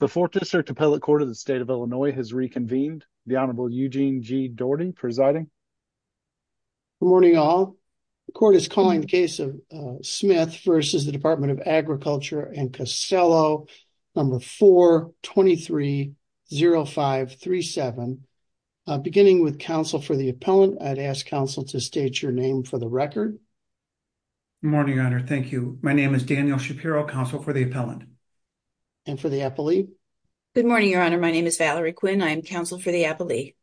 The 4th District Appellate Court of the State of Illinois has reconvened. The Honorable Eugene G. Doherty presiding. Good morning all. The court is calling the case of Smith v. Department of Agriculture and Costello, number 4-230537. Beginning with counsel for the appellant, I'd ask counsel to state your name for the record. Good morning, Your Honor. Thank you. My name is Daniel Shapiro, counsel for the appellant. And for the appellee? Good morning, Your Honor. My name is Valerie Quinn. I am counsel for the appellee.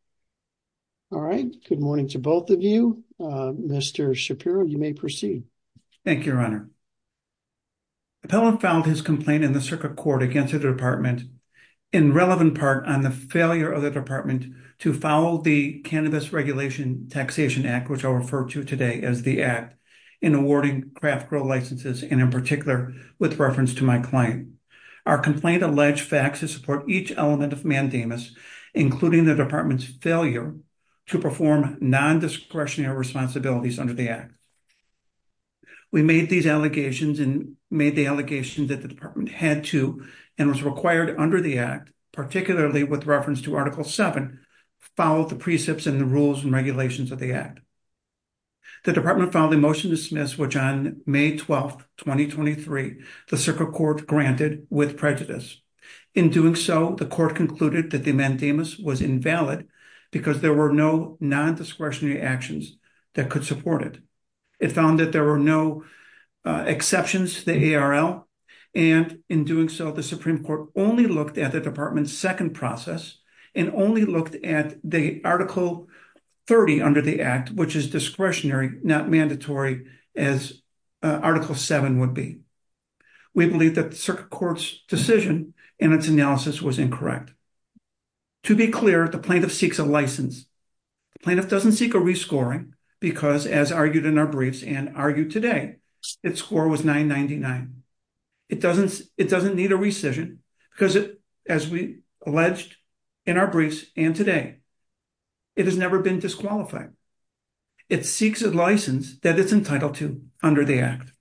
All right. Good morning to both of you. Mr. Shapiro, you may proceed. Thank you, Your Honor. The appellant filed his complaint in the circuit court against the department in relevant part on the failure of the department to follow the Cannabis Regulation Taxation Act, which I'll refer to today as the Act, in awarding craft grow licenses, and in particular with reference to my client. Our complaint alleged facts that support each element of mandamus, including the department's failure to perform non-discretionary responsibilities under the Act. We made these allegations and made the allegations that the department had to and was required under the Act, particularly with reference to Article 7, follow the precepts and the rules and regulations of the Act. The department filed a motion to dismiss which on May 12, 2023, the circuit court granted with prejudice. In doing so, the court concluded that the mandamus was invalid because there were no non-discretionary actions that could support it. It found that there were no exceptions to the ARL. And in doing so, the Supreme Court only looked at the department's second process and only looked at the Article 30 under the Act, which is discretionary, not mandatory as Article 7 would be. We believe that the circuit court's decision and its analysis was incorrect. To be clear, the plaintiff seeks a license. The plaintiff doesn't seek a rescoring because, as argued in our briefs and argued today, its score was 999. It doesn't need a rescission because, as we alleged in our briefs and today, it has never been disqualified. It seeks a license that it's entitled to under the Act.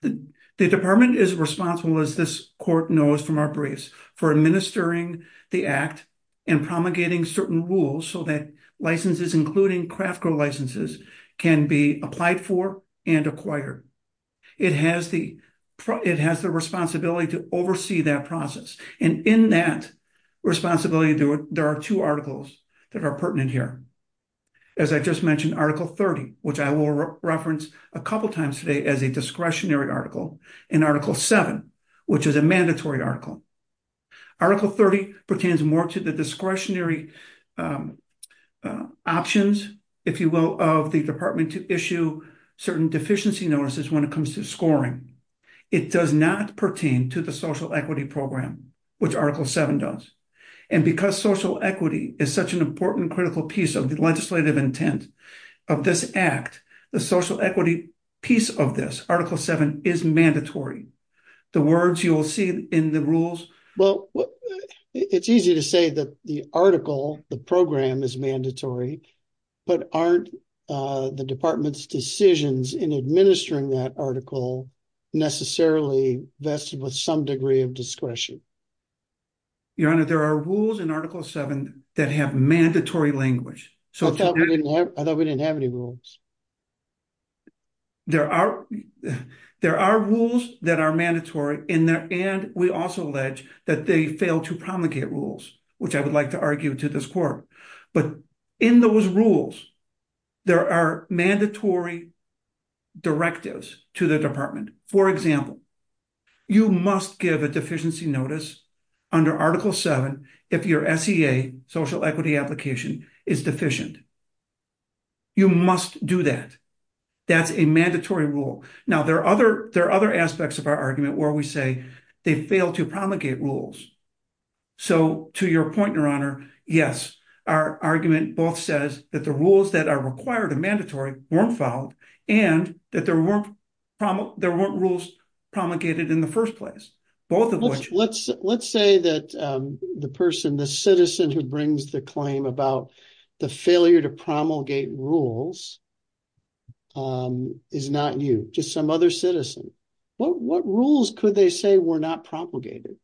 The department is responsible, as this court knows from our briefs, for administering the Act and promulgating certain rules so that licenses, including craft grow licenses, can be applied for and acquired. It has the responsibility to oversee that process. And in that responsibility, there are two articles that are pertinent here. As I just mentioned, Article 30, which I will reference a couple times today as a discretionary article, and Article 7, which is a mandatory article. Article 30 pertains more to the discretionary options, if you will, of the department to issue certain deficiency notices when it comes to scoring. It does not pertain to the social equity program, which Article 7 does. And because social equity is such an important critical piece of the legislative intent of this Act, the social equity piece of this, Article 7, is mandatory. The words you will see in the rules. Well, it's easy to say that the article, the program, is mandatory, but aren't the department's decisions in administering that article necessarily vested with some degree of discretion? Your Honor, there are rules in Article 7 that have mandatory language. I thought we didn't have any rules. There are rules that are mandatory, and we also allege that they fail to promulgate rules, which I would like to argue to this Court. But in those rules, there are mandatory directives to the department. For example, you must give a deficiency notice under Article 7 if your SEA, social equity application, is deficient. You must do that. That's a mandatory rule. Now, there are other aspects of our argument where we say they fail to promulgate rules. So, to your point, Your Honor, yes, our argument both says that the rules that are required and mandatory weren't followed, and that there weren't rules promulgated in the first place, both of which. Let's say that the person, the citizen who brings the claim about the failure to promulgate rules is not you, just some other citizen. What rules could they say were not promulgated?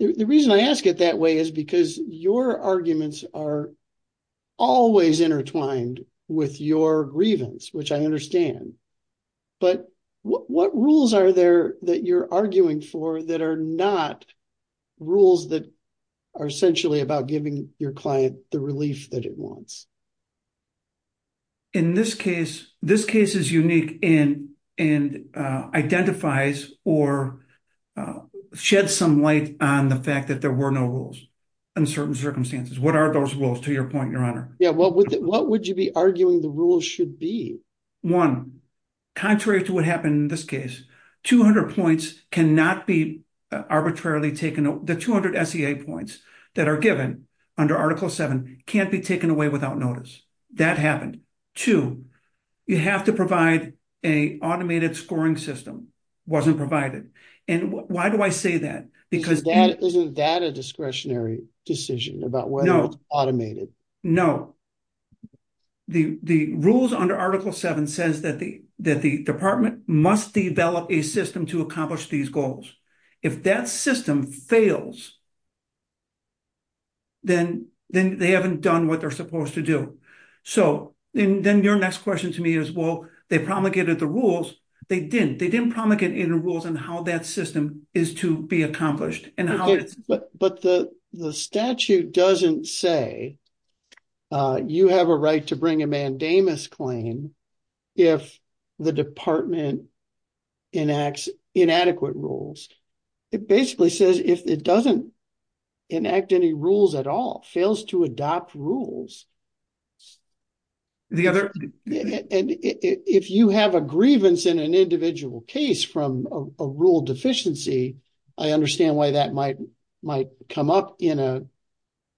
The reason I ask it that way is because your arguments are always intertwined with your grievance, which I understand. But what rules are there that you're arguing for that are not rules that are essentially about giving your client the relief that it wants? In this case, this case is unique and identifies or sheds some light on the fact that there were no rules in certain circumstances. What are those rules, to your point, Your Honor? Yeah, well, what would you be arguing the rules should be? One, contrary to what happened in this case, the 200 SEA points that are given under Article VII can't be taken away without notice. That happened. Two, you have to provide an automated scoring system. It wasn't provided. And why do I say that? Isn't that a discretionary decision about whether it's automated? No. The rules under Article VII says that the department must develop a system to accomplish these goals. If that system fails, then they haven't done what they're supposed to do. So then your next question to me is, well, they promulgated the rules. They didn't. They didn't promulgate any rules on how that system is to be accomplished. But the statute doesn't say you have a right to bring a mandamus claim if the department enacts inadequate rules. It basically says if it doesn't enact any rules at all, fails to adopt rules. And if you have a grievance in an individual case from a rule deficiency, I understand why that might come up in an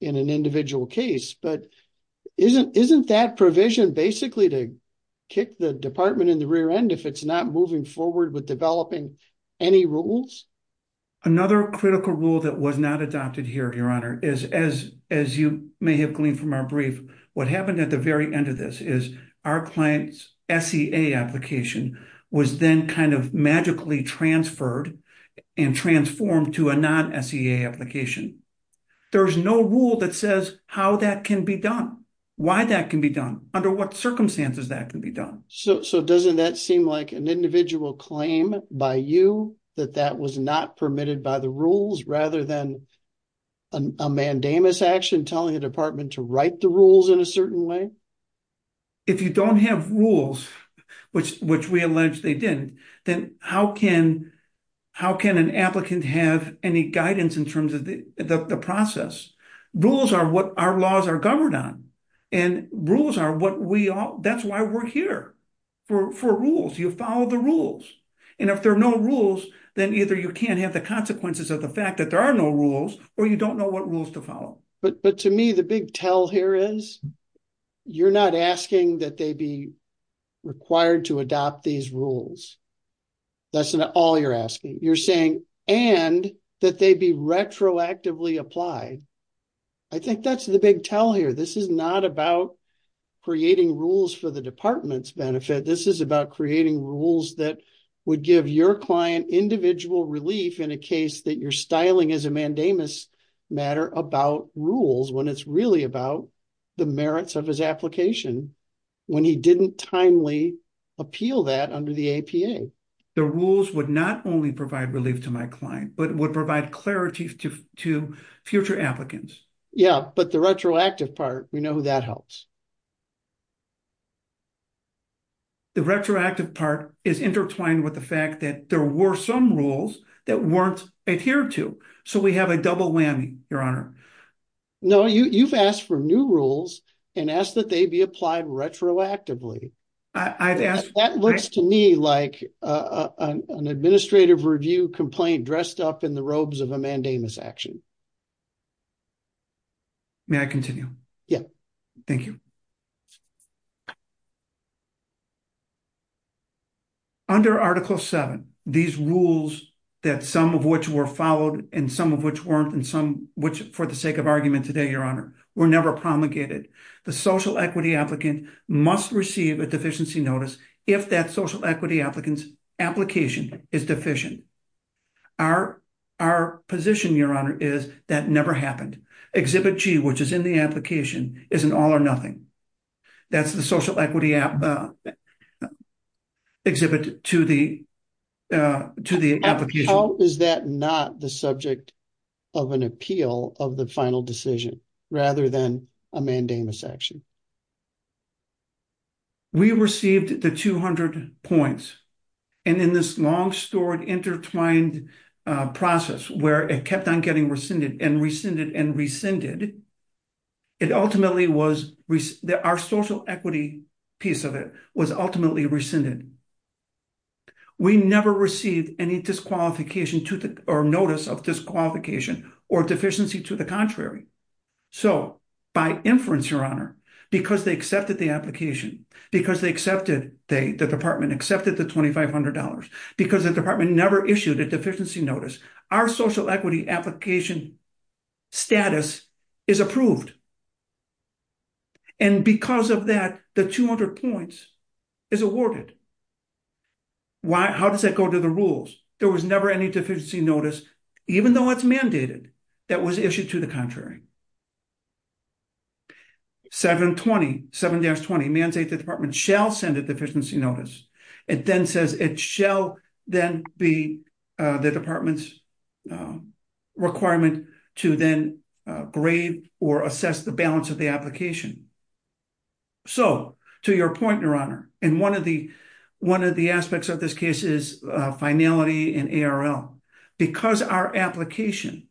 individual case. But isn't that provision basically to kick the department in the rear end if it's not moving forward with developing any rules? Another critical rule that was not adopted here, Your Honor, is as you may have gleaned from our brief, what happened at the very end of this is our client's SEA application was then kind of magically transferred and transformed to a non-SEA application. There's no rule that says how that can be done, why that can be done, under what circumstances that can be done. So doesn't that seem like an individual claim by you that that was not permitted by the rules rather than a mandamus action telling the department to write the rules in a certain way? If you don't have rules, which we allege they didn't, then how can an applicant have any guidance in terms of the process? Rules are what our laws are governed on and rules are what we all, that's why we're here for rules. You follow the rules. And if there are no rules, then either you can't have the consequences of the fact that there are no rules or you don't know what rules to follow. But to me, the big tell here is you're not asking that they be required to adopt these rules. That's all you're asking. You're saying, and that they be retroactively applied. I think that's the big tell here. This is not about creating rules for the department's benefit. This is about creating rules that would give your client individual relief in a case that you're styling as a mandamus matter about rules when it's really about the merits of his application when he didn't timely appeal that under the APA. The rules would not only provide relief to my client, but would provide clarity to future applicants. Yeah, but the retroactive part, we know that helps. The retroactive part is intertwined with the fact that there were some rules that weren't adhered to. So we have a double whammy, Your Honor. No, you've asked for new rules and asked that they be applied retroactively. That looks to me like an administrative review complaint dressed up in the robes of a mandamus action. May I continue? Thank you. Under Article 7, these rules that some of which were followed, and some of which weren't, and some which for the sake of argument today, Your Honor, were never promulgated. The social equity applicant must receive a deficiency notice if that social equity applicants application is deficient. Our position, Your Honor, is that never happened. Exhibit G, which is in the application, is an all or nothing. That's the social equity exhibit to the application. How is that not the subject of an appeal of the final decision, rather than a mandamus action? We received the 200 points, and in this long-stored intertwined process where it kept on getting rescinded and rescinded and rescinded, our social equity piece of it was ultimately rescinded. We never received any disqualification or notice of disqualification or deficiency to the contrary. So, by inference, Your Honor, because they accepted the application, because the department accepted the $2,500, because the department never issued a deficiency notice, our social equity application status is approved. And because of that, the 200 points is awarded. How does that go to the rules? There was never any deficiency notice, even though it's mandated, that was issued to the contrary. 7-20, 7-20, mandate the department shall send a deficiency notice. It then says it shall then be the department's requirement to then grade or assess the balance of the application. So, to your point, Your Honor, and one of the aspects of this case is finality and ARL. Because our application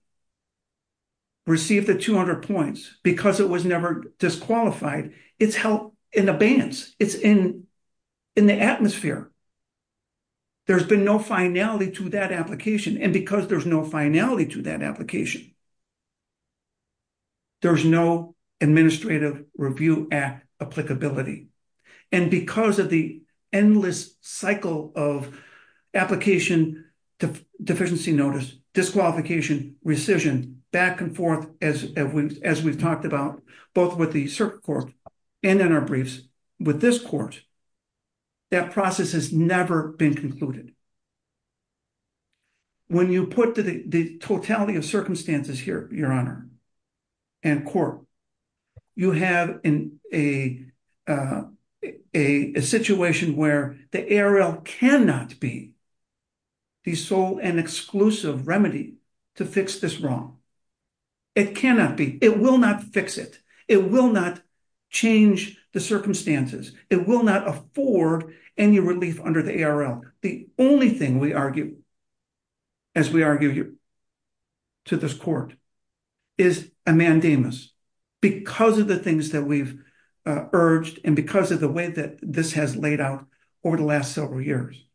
received the 200 points, because it was never disqualified, it's held in abeyance. It's in the atmosphere. There's been no finality to that application, and because there's no finality to that application, there's no Administrative Review Act applicability. And because of the endless cycle of application, deficiency notice, disqualification, rescission, back and forth, as we've talked about, both with the circuit court and in our briefs with this court, that process has never been concluded. When you put the totality of circumstances here, Your Honor, and court, you have a situation where the ARL cannot be the sole and exclusive remedy to fix this wrong. It cannot be. It will not fix it. It will not change the circumstances. It will not afford any relief under the ARL. The only thing we argue, as we argue to this court, is a mandamus because of the things that we've urged and because of the way that this has laid out over the last several years.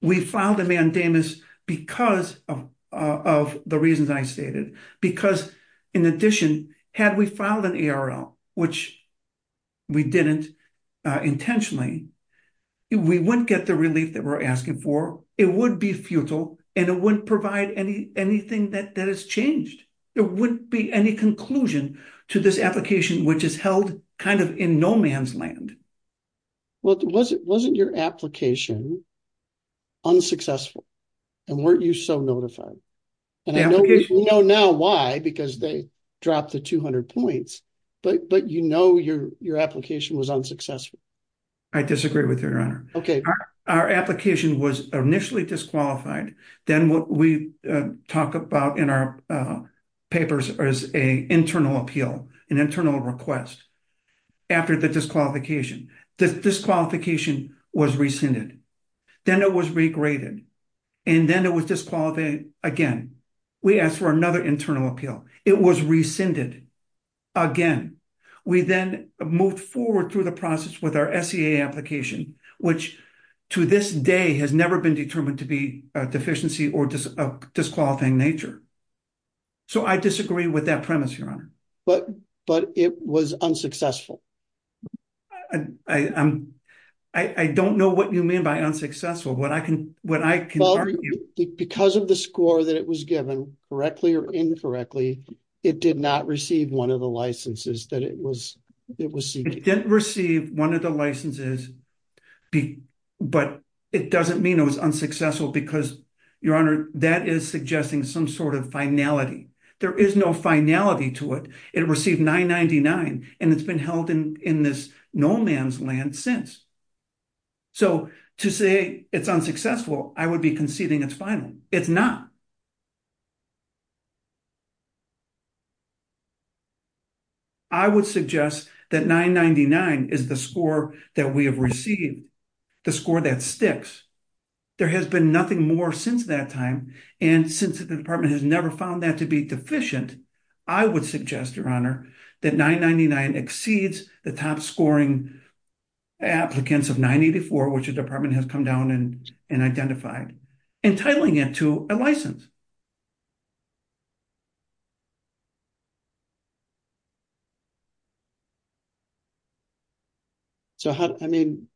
We filed a mandamus because of the reasons I stated, because in addition, had we filed an ARL, which we didn't intentionally, we wouldn't get the relief that we're asking for. It would be futile, and it wouldn't provide anything that has changed. There wouldn't be any conclusion to this application, which is held kind of in no man's land. Well, wasn't your application unsuccessful? And weren't you so notified? And I know we know now why, because they dropped the 200 points, but you know your application was unsuccessful. I disagree with you, Your Honor. Okay. Our application was initially disqualified. Then what we talk about in our papers is an internal appeal, an internal request after the disqualification. The disqualification was rescinded. Then it was regraded, and then it was disqualified again. We asked for another internal appeal. It was rescinded again. We then moved forward through the process with our SEA application, which to this day has never been determined to be a deficiency or a disqualifying nature. So I disagree with that premise, Your Honor. But it was unsuccessful. I don't know what you mean by unsuccessful. Because of the score that it was given, correctly or incorrectly, it did not receive one of the licenses that it was seeking. It didn't receive one of the licenses, but it doesn't mean it was unsuccessful because, Your Honor, that is suggesting some sort of finality. There is no finality to it. It received 999, and it's been held in this no man's land since. So to say it's unsuccessful, I would be conceding it's final. It's not. I would suggest that 999 is the score that we have received, the score that sticks. There has been nothing more since that time, and since the department has never found that to be deficient, I would suggest, Your Honor, that 999 exceeds the top scoring applicants of 984, which the department has come down and identified, entitling it to a license. So, I mean,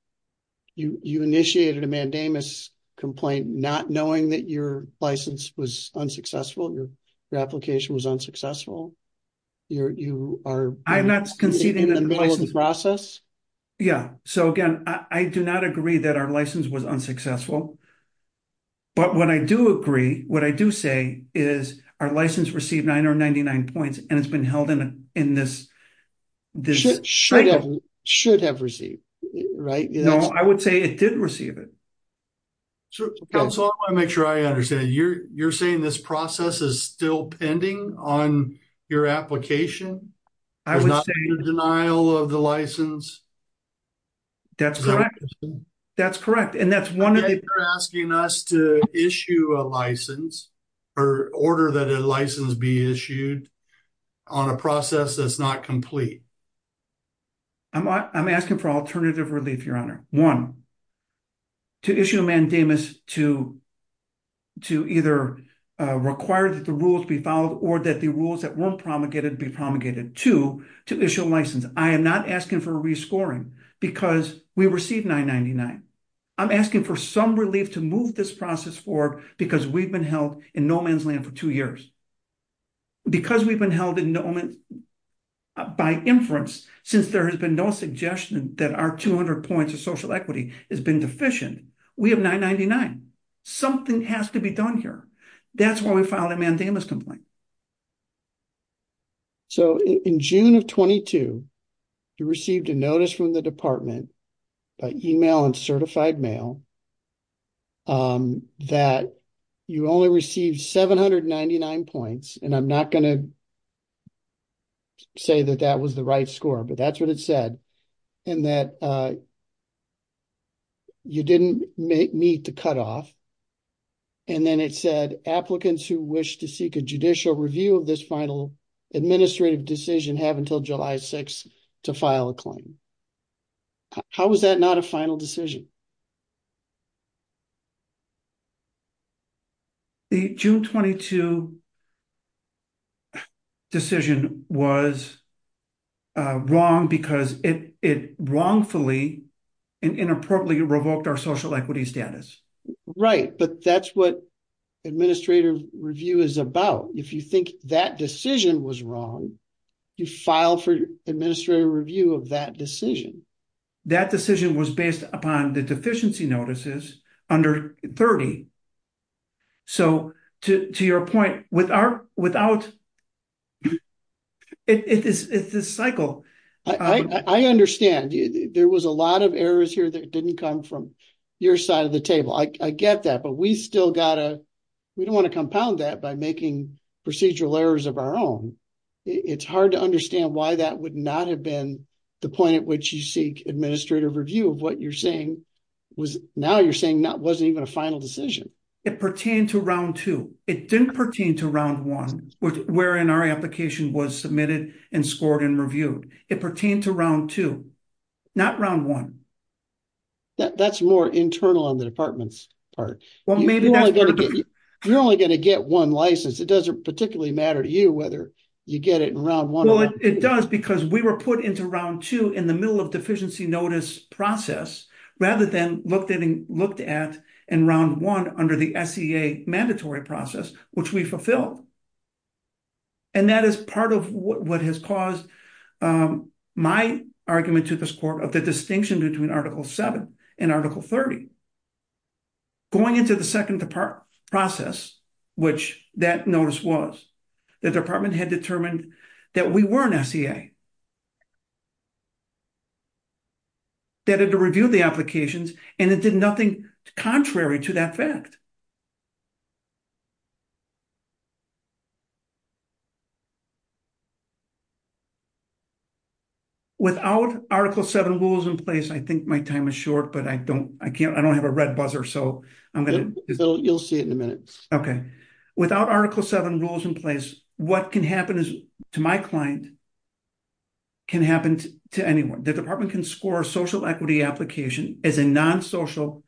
you initiated a mandamus complaint, not knowing that your license was unsuccessful, your application was unsuccessful. You are conceding in the middle of the process? Yeah. So, again, I do not agree that our license was unsuccessful. But what I do agree, what I do suggest is that the department should have a license. And what I do say is our license received 999 points, and it's been held in this. Should have received, right? No, I would say it did receive it. So I want to make sure I understand. You're saying this process is still pending on your application? There's not been a denial of the license? That's correct. That's correct. Again, you're asking us to issue a license or order that a license be issued on a process that's not complete? I'm asking for alternative relief, Your Honor. One, to issue a mandamus to either require that the rules be followed or that the rules that weren't promulgated be promulgated. Two, to issue a license. I am not asking for a rescoring because we received 999. I'm asking for some relief to move this process forward because we've been held in no man's land for two years. Because we've been held by inference, since there has been no suggestion that our 200 points of social equity has been deficient, we have 999. Something has to be done here. That's why we filed a mandamus complaint. In June of 22, you received a notice from the department by email and certified mail that you only received 799 points. And I'm not going to say that that was the right score, but that's what it said. And that you didn't meet the cutoff. And then it said, applicants who wish to seek a judicial review of this final administrative decision have until July 6 to file a claim. How was that not a final decision? The June 22 decision was wrong because it wrongfully and inappropriately revoked our social equity status. Right, but that's what administrative review is about. If you think that decision was wrong, you file for administrative review of that decision. That decision was based upon the deficiency notices under 30. So, to your point, without, it's this cycle. I understand. There was a lot of errors here that didn't come from your side of the table. I get that. But we still got to, we don't want to compound that by making procedural errors of our own. It's hard to understand why that would not have been the point at which you seek administrative review of what you're saying was, now you're saying that wasn't even a final decision. It pertained to round two. It didn't pertain to round one, wherein our application was submitted and scored and reviewed. It pertained to round two, not round one. That's more internal on the department's part. You're only going to get one license. It doesn't particularly matter to you whether you get it in round one or not. And that is part of what has caused my argument to this court of the distinction between Article 7 and Article 30. Going into the second process, which that notice was, the department had determined that we were an SEA, that it reviewed the applications, and it did nothing contrary to that fact. Without Article 7 rules in place, I think my time is short, but I don't, I can't, I don't have a red buzzer, so I'm going to... So you'll see it in a minute. Okay. Without Article 7 rules in place, what can happen to my client can happen to anyone. The department can score a social equity application as a non-social...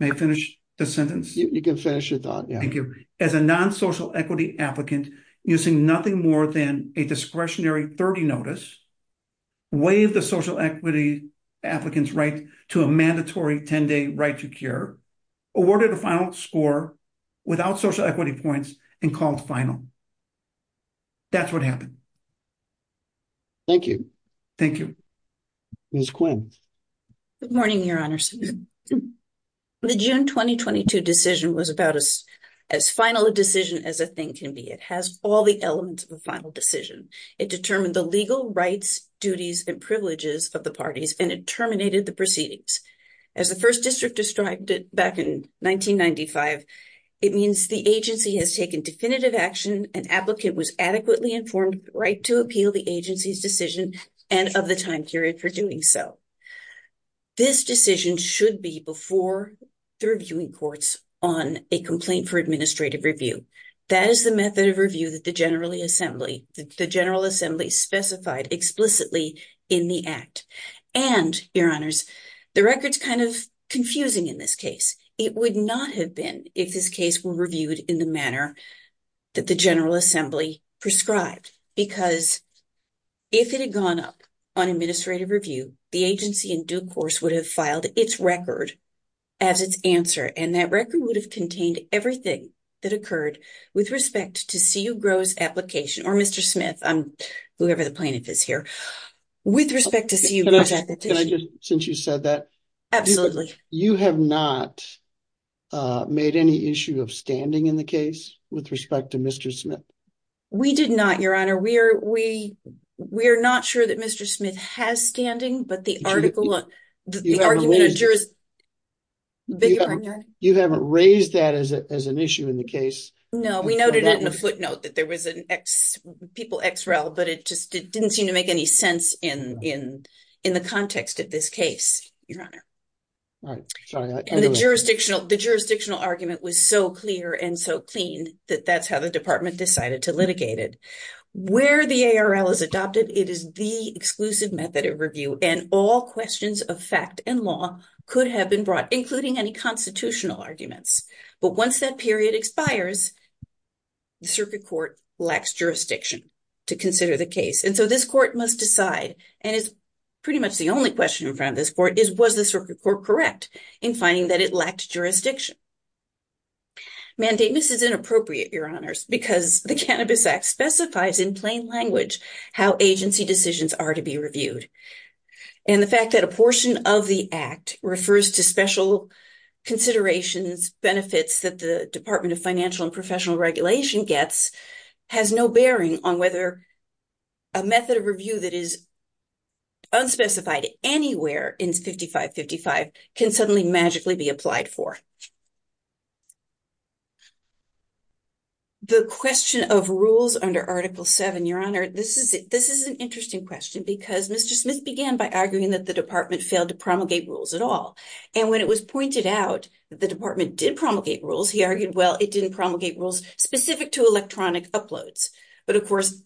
May I finish the sentence? You can finish your thought. Thank you. As a non-social equity applicant using nothing more than a discretionary 30 notice, waive the social equity applicant's right to a mandatory 10-day right to care, awarded a final score without social equity points, and called final. That's what happened. Thank you. Thank you. Ms. Quinn. Good morning, Your Honors. The June 2022 decision was about as final a decision as a thing can be. It has all the elements of a final decision. It determined the legal rights, duties, and privileges of the parties, and it terminated the proceedings. As the First District described it back in 1995, it means the agency has taken definitive action, an applicant was adequately informed, right to appeal the agency's decision, and of the time period for doing so. This decision should be before the reviewing courts on a complaint for administrative review. That is the method of review that the General Assembly specified explicitly in the Act. And, Your Honors, the record's kind of confusing in this case. It would not have been if this case were reviewed in the manner that the General Assembly prescribed, because if it had gone up on administrative review, the agency in due course would have filed its record as its answer. And that record would have contained everything that occurred with respect to C.U. Gros' application, or Mr. Smith, whoever the plaintiff is here, with respect to C.U. Gros' application. Can I just, since you said that? Absolutely. You have not made any issue of standing in the case with respect to Mr. Smith? We did not, Your Honor. We are not sure that Mr. Smith has standing, but the article, the argument of jurisdiction... You haven't raised that as an issue in the case? No, we noted it in a footnote that there was an ex, people ex rel, but it just didn't seem to make any sense in the context of this case, Your Honor. Right. And the jurisdictional argument was so clear and so clean that that's how the department decided to litigate it. Where the ARL is adopted, it is the exclusive method of review, and all questions of fact and law could have been brought, including any constitutional arguments. But once that period expires, the Circuit Court lacks jurisdiction to consider the case. And so this court must decide, and it's pretty much the only question in front of this court, is was the Circuit Court correct in finding that it lacked jurisdiction? Mandateness is inappropriate, Your Honors, because the Cannabis Act specifies in plain language how agency decisions are to be reviewed. And the fact that a portion of the Act refers to special considerations, benefits that the Department of Financial and Professional Regulation gets, has no bearing on whether a method of review that is unspecified anywhere in 5555 can suddenly magically be applied for. The question of rules under Article 7, Your Honor, this is an interesting question, because Mr. Smith began by arguing that the department failed to promulgate rules at all. And when it was pointed out that the department did promulgate rules, he argued, well, it didn't promulgate rules specific to electronic uploads. But, of course,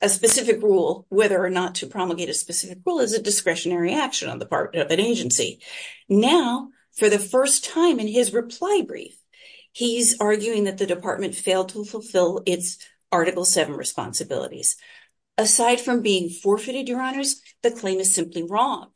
a specific rule, whether or not to promulgate a specific rule, is a discretionary action on the part of an agency. Now, for the first time in his reply brief, he's arguing that the department failed to fulfill its Article 7 responsibilities. Aside from being forfeited, Your Honors, the claim is simply wrong.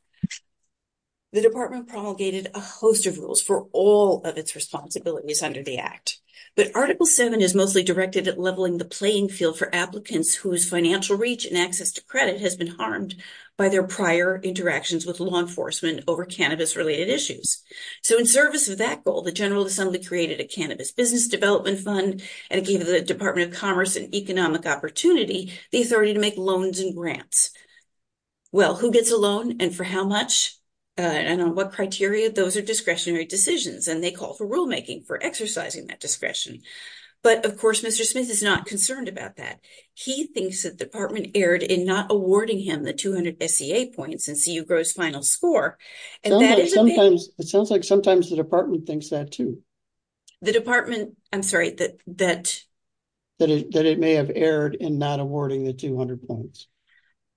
The department promulgated a host of rules for all of its responsibilities under the Act. But Article 7 is mostly directed at leveling the playing field for applicants whose financial reach and access to credit has been harmed by their prior interactions with law enforcement over cannabis-related issues. So in service of that goal, the General Assembly created a Cannabis Business Development Fund, and it gave the Department of Commerce an economic opportunity, the authority to make loans and grants. Well, who gets a loan, and for how much, and on what criteria? Those are discretionary decisions, and they call for rulemaking for exercising that discretion. But, of course, Mr. Smith is not concerned about that. He thinks that the department erred in not awarding him the 200 SEA points in CU Gross' final score, and that isn't it. It sounds like sometimes the department thinks that, too. The department, I'm sorry, that... That it may have erred in not awarding the 200 points.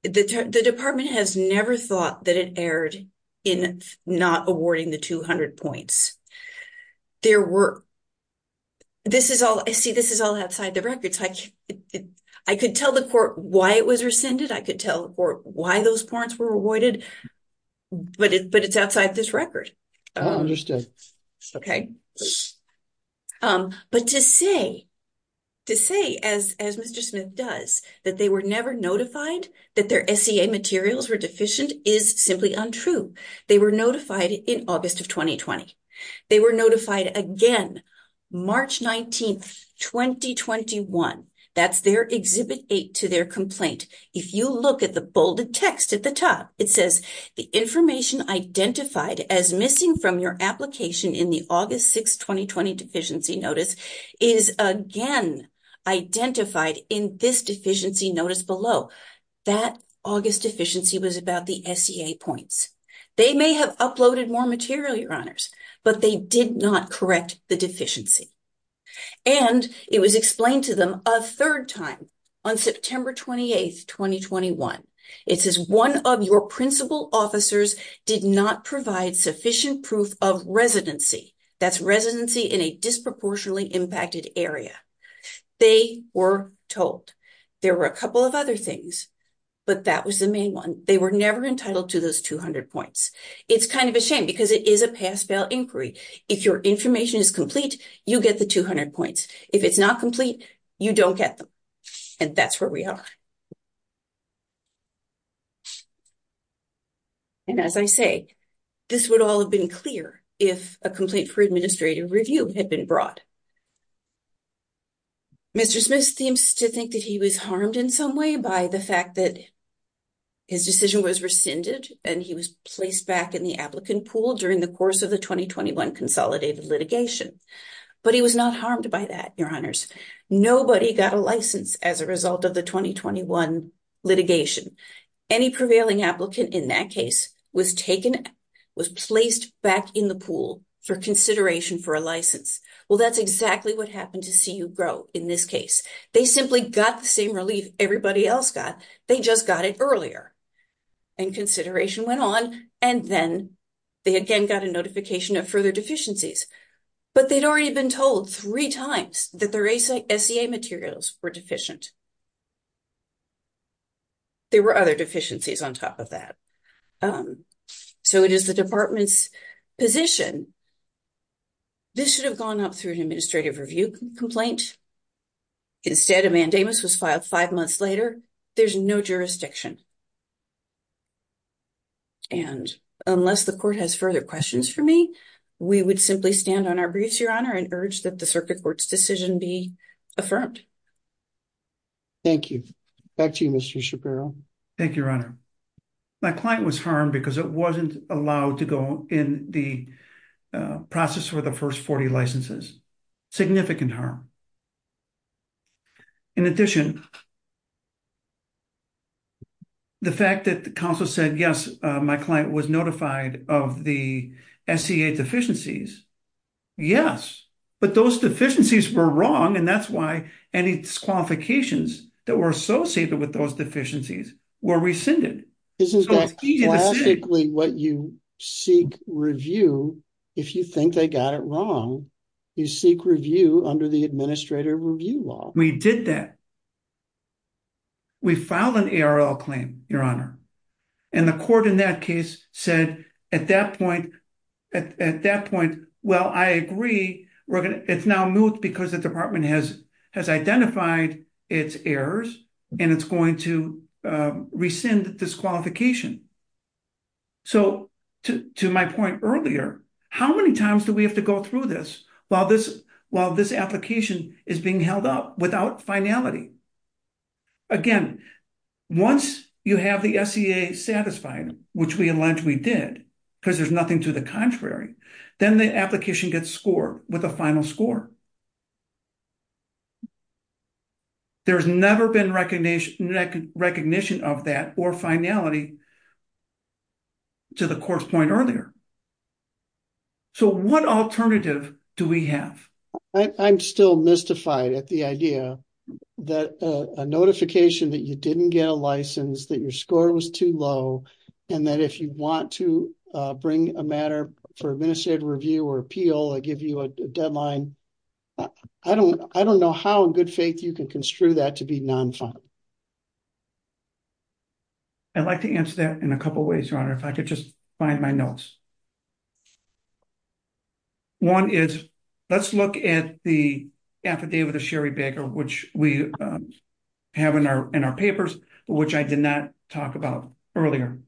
The department has never thought that it erred in not awarding the 200 points. There were... This is all... See, this is all outside the records. I could tell the court why it was rescinded. I could tell the court why those points were awarded. But it's outside this record. I understand. Okay. But to say... To say, as Mr. Smith does, that they were never notified that their SEA materials were deficient is simply untrue. They were notified in August of 2020. They were notified again March 19, 2021. That's their Exhibit 8 to their complaint. If you look at the bolded text at the top, it says, The information identified as missing from your application in the August 6, 2020 Deficiency Notice is again identified in this Deficiency Notice below. That August deficiency was about the SEA points. They may have uploaded more material, Your Honors, but they did not correct the deficiency. And it was explained to them a third time on September 28, 2021. It says, One of your principal officers did not provide sufficient proof of residency. That's residency in a disproportionately impacted area. They were told. There were a couple of other things, but that was the main one. They were never entitled to those 200 points. It's kind of a shame because it is a pass-fail inquiry. If your information is complete, you get the 200 points. If it's not complete, you don't get them. And that's where we are. And as I say, this would all have been clear if a complaint for administrative review had been brought. Mr. Smith seems to think that he was harmed in some way by the fact that. His decision was rescinded, and he was placed back in the applicant pool during the course of the 2021 consolidated litigation. But he was not harmed by that, Your Honors. Nobody got a license as a result of the 2021 litigation. Any prevailing applicant in that case was taken, was placed back in the pool for consideration for a license. Well, that's exactly what happened to see you grow in this case. They simply got the same relief everybody else got. They just got it earlier. And consideration went on, and then they again got a notification of further deficiencies. But they'd already been told three times that their SEA materials were deficient. There were other deficiencies on top of that. So it is the department's position. This should have gone up through an administrative review complaint. Instead, a mandamus was filed five months later. There's no jurisdiction. And unless the court has further questions for me, we would simply stand on our briefs, Your Honor, and urge that the circuit court's decision be affirmed. Thank you. Back to you, Mr. Shapiro. Thank you, Your Honor. My client was harmed because it wasn't allowed to go in the process for the first 40 licenses. Significant harm. In addition, the fact that the counsel said, yes, my client was notified of the SEA deficiencies, yes. But those deficiencies were wrong, and that's why any disqualifications that were associated with those deficiencies were rescinded. Isn't that classically what you seek review if you think they got it wrong? You seek review under the administrative review law. We did that. We filed an ARL claim, Your Honor. And the court in that case said at that point, well, I agree. It's now moot because the department has identified its errors, and it's going to rescind disqualification. So to my point earlier, how many times do we have to go through this while this application is being held up without finality? Again, once you have the SEA satisfied, which we allege we did because there's nothing to the contrary, then the application gets scored with a final score. There's never been recognition of that or finality to the court's point earlier. So what alternative do we have? I'm still mystified at the idea that a notification that you didn't get a license, that your score was too low, and that if you want to bring a matter for administrative review or appeal, they give you a deadline. I don't know how in good faith you can construe that to be non-final. I'd like to answer that in a couple ways, Your Honor, if I could just find my notes. One is, let's look at the affidavit of Sherry Baker, which we have in our papers, which I did not talk about earlier.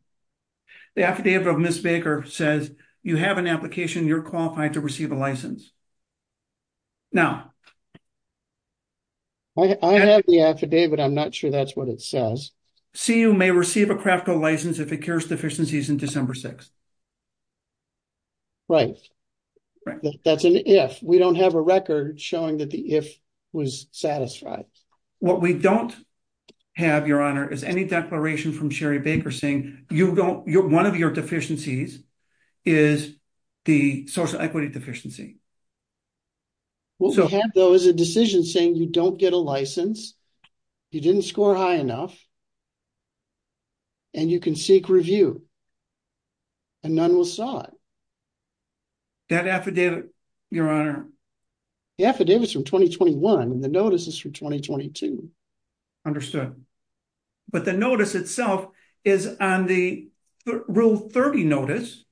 The affidavit of Ms. Baker says, you have an application, you're qualified to receive a license. I have the affidavit. I'm not sure that's what it says. CU may receive a craft code license if it cures deficiencies in December 6. Right. That's an if. We don't have a record showing that the if was satisfied. What we don't have, Your Honor, is any declaration from Sherry Baker saying one of your deficiencies is the social equity deficiency. What we have, though, is a decision saying you don't get a license, you didn't score high enough, and you can seek review, and none will saw it. That affidavit, Your Honor. The affidavit is from 2021, and the notice is from 2022. Understood. But the notice itself is on the Rule 30 notice,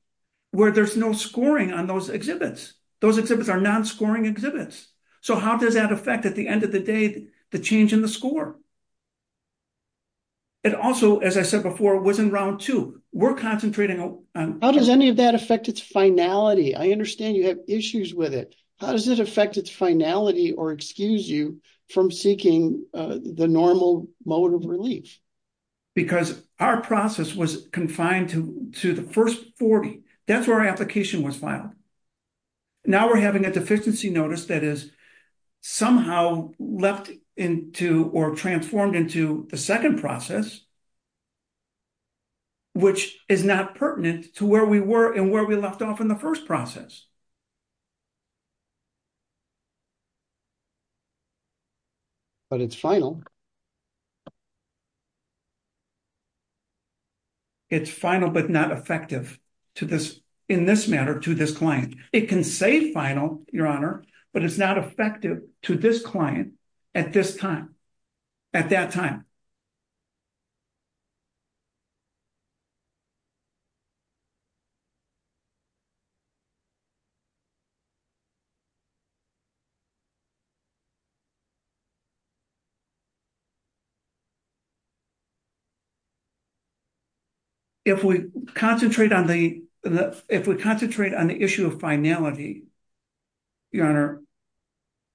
where there's no scoring on those exhibits. Those exhibits are non-scoring exhibits. So how does that affect, at the end of the day, the change in the score? It also, as I said before, was in Round 2. We're concentrating on... How does any of that affect its finality? I understand you have issues with it. How does it affect its finality or excuse you from seeking the normal mode of relief? Because our process was confined to the first 40. That's where our application was filed. Now we're having a deficiency notice that is somehow left into or transformed into the second process, which is not pertinent to where we were and where we left off in the first process. But it's final. It's final but not effective in this matter to this client. It can say final, Your Honor, but it's not effective to this client at this time. At that time. If we concentrate on the issue of finality, Your Honor,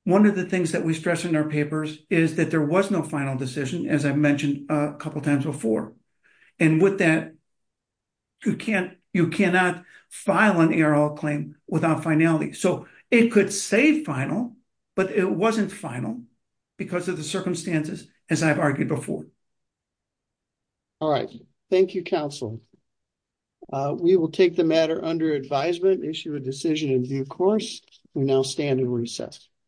one of the things that we stress in our papers is that there was no final decision, as I mentioned a couple times before. And with that, you cannot file an ARL claim without finality. So it could say final, but it wasn't final because of the circumstances, as I've argued before. All right. Thank you, counsel. We will take the matter under advisement, issue a decision in due course. We now stand in recess.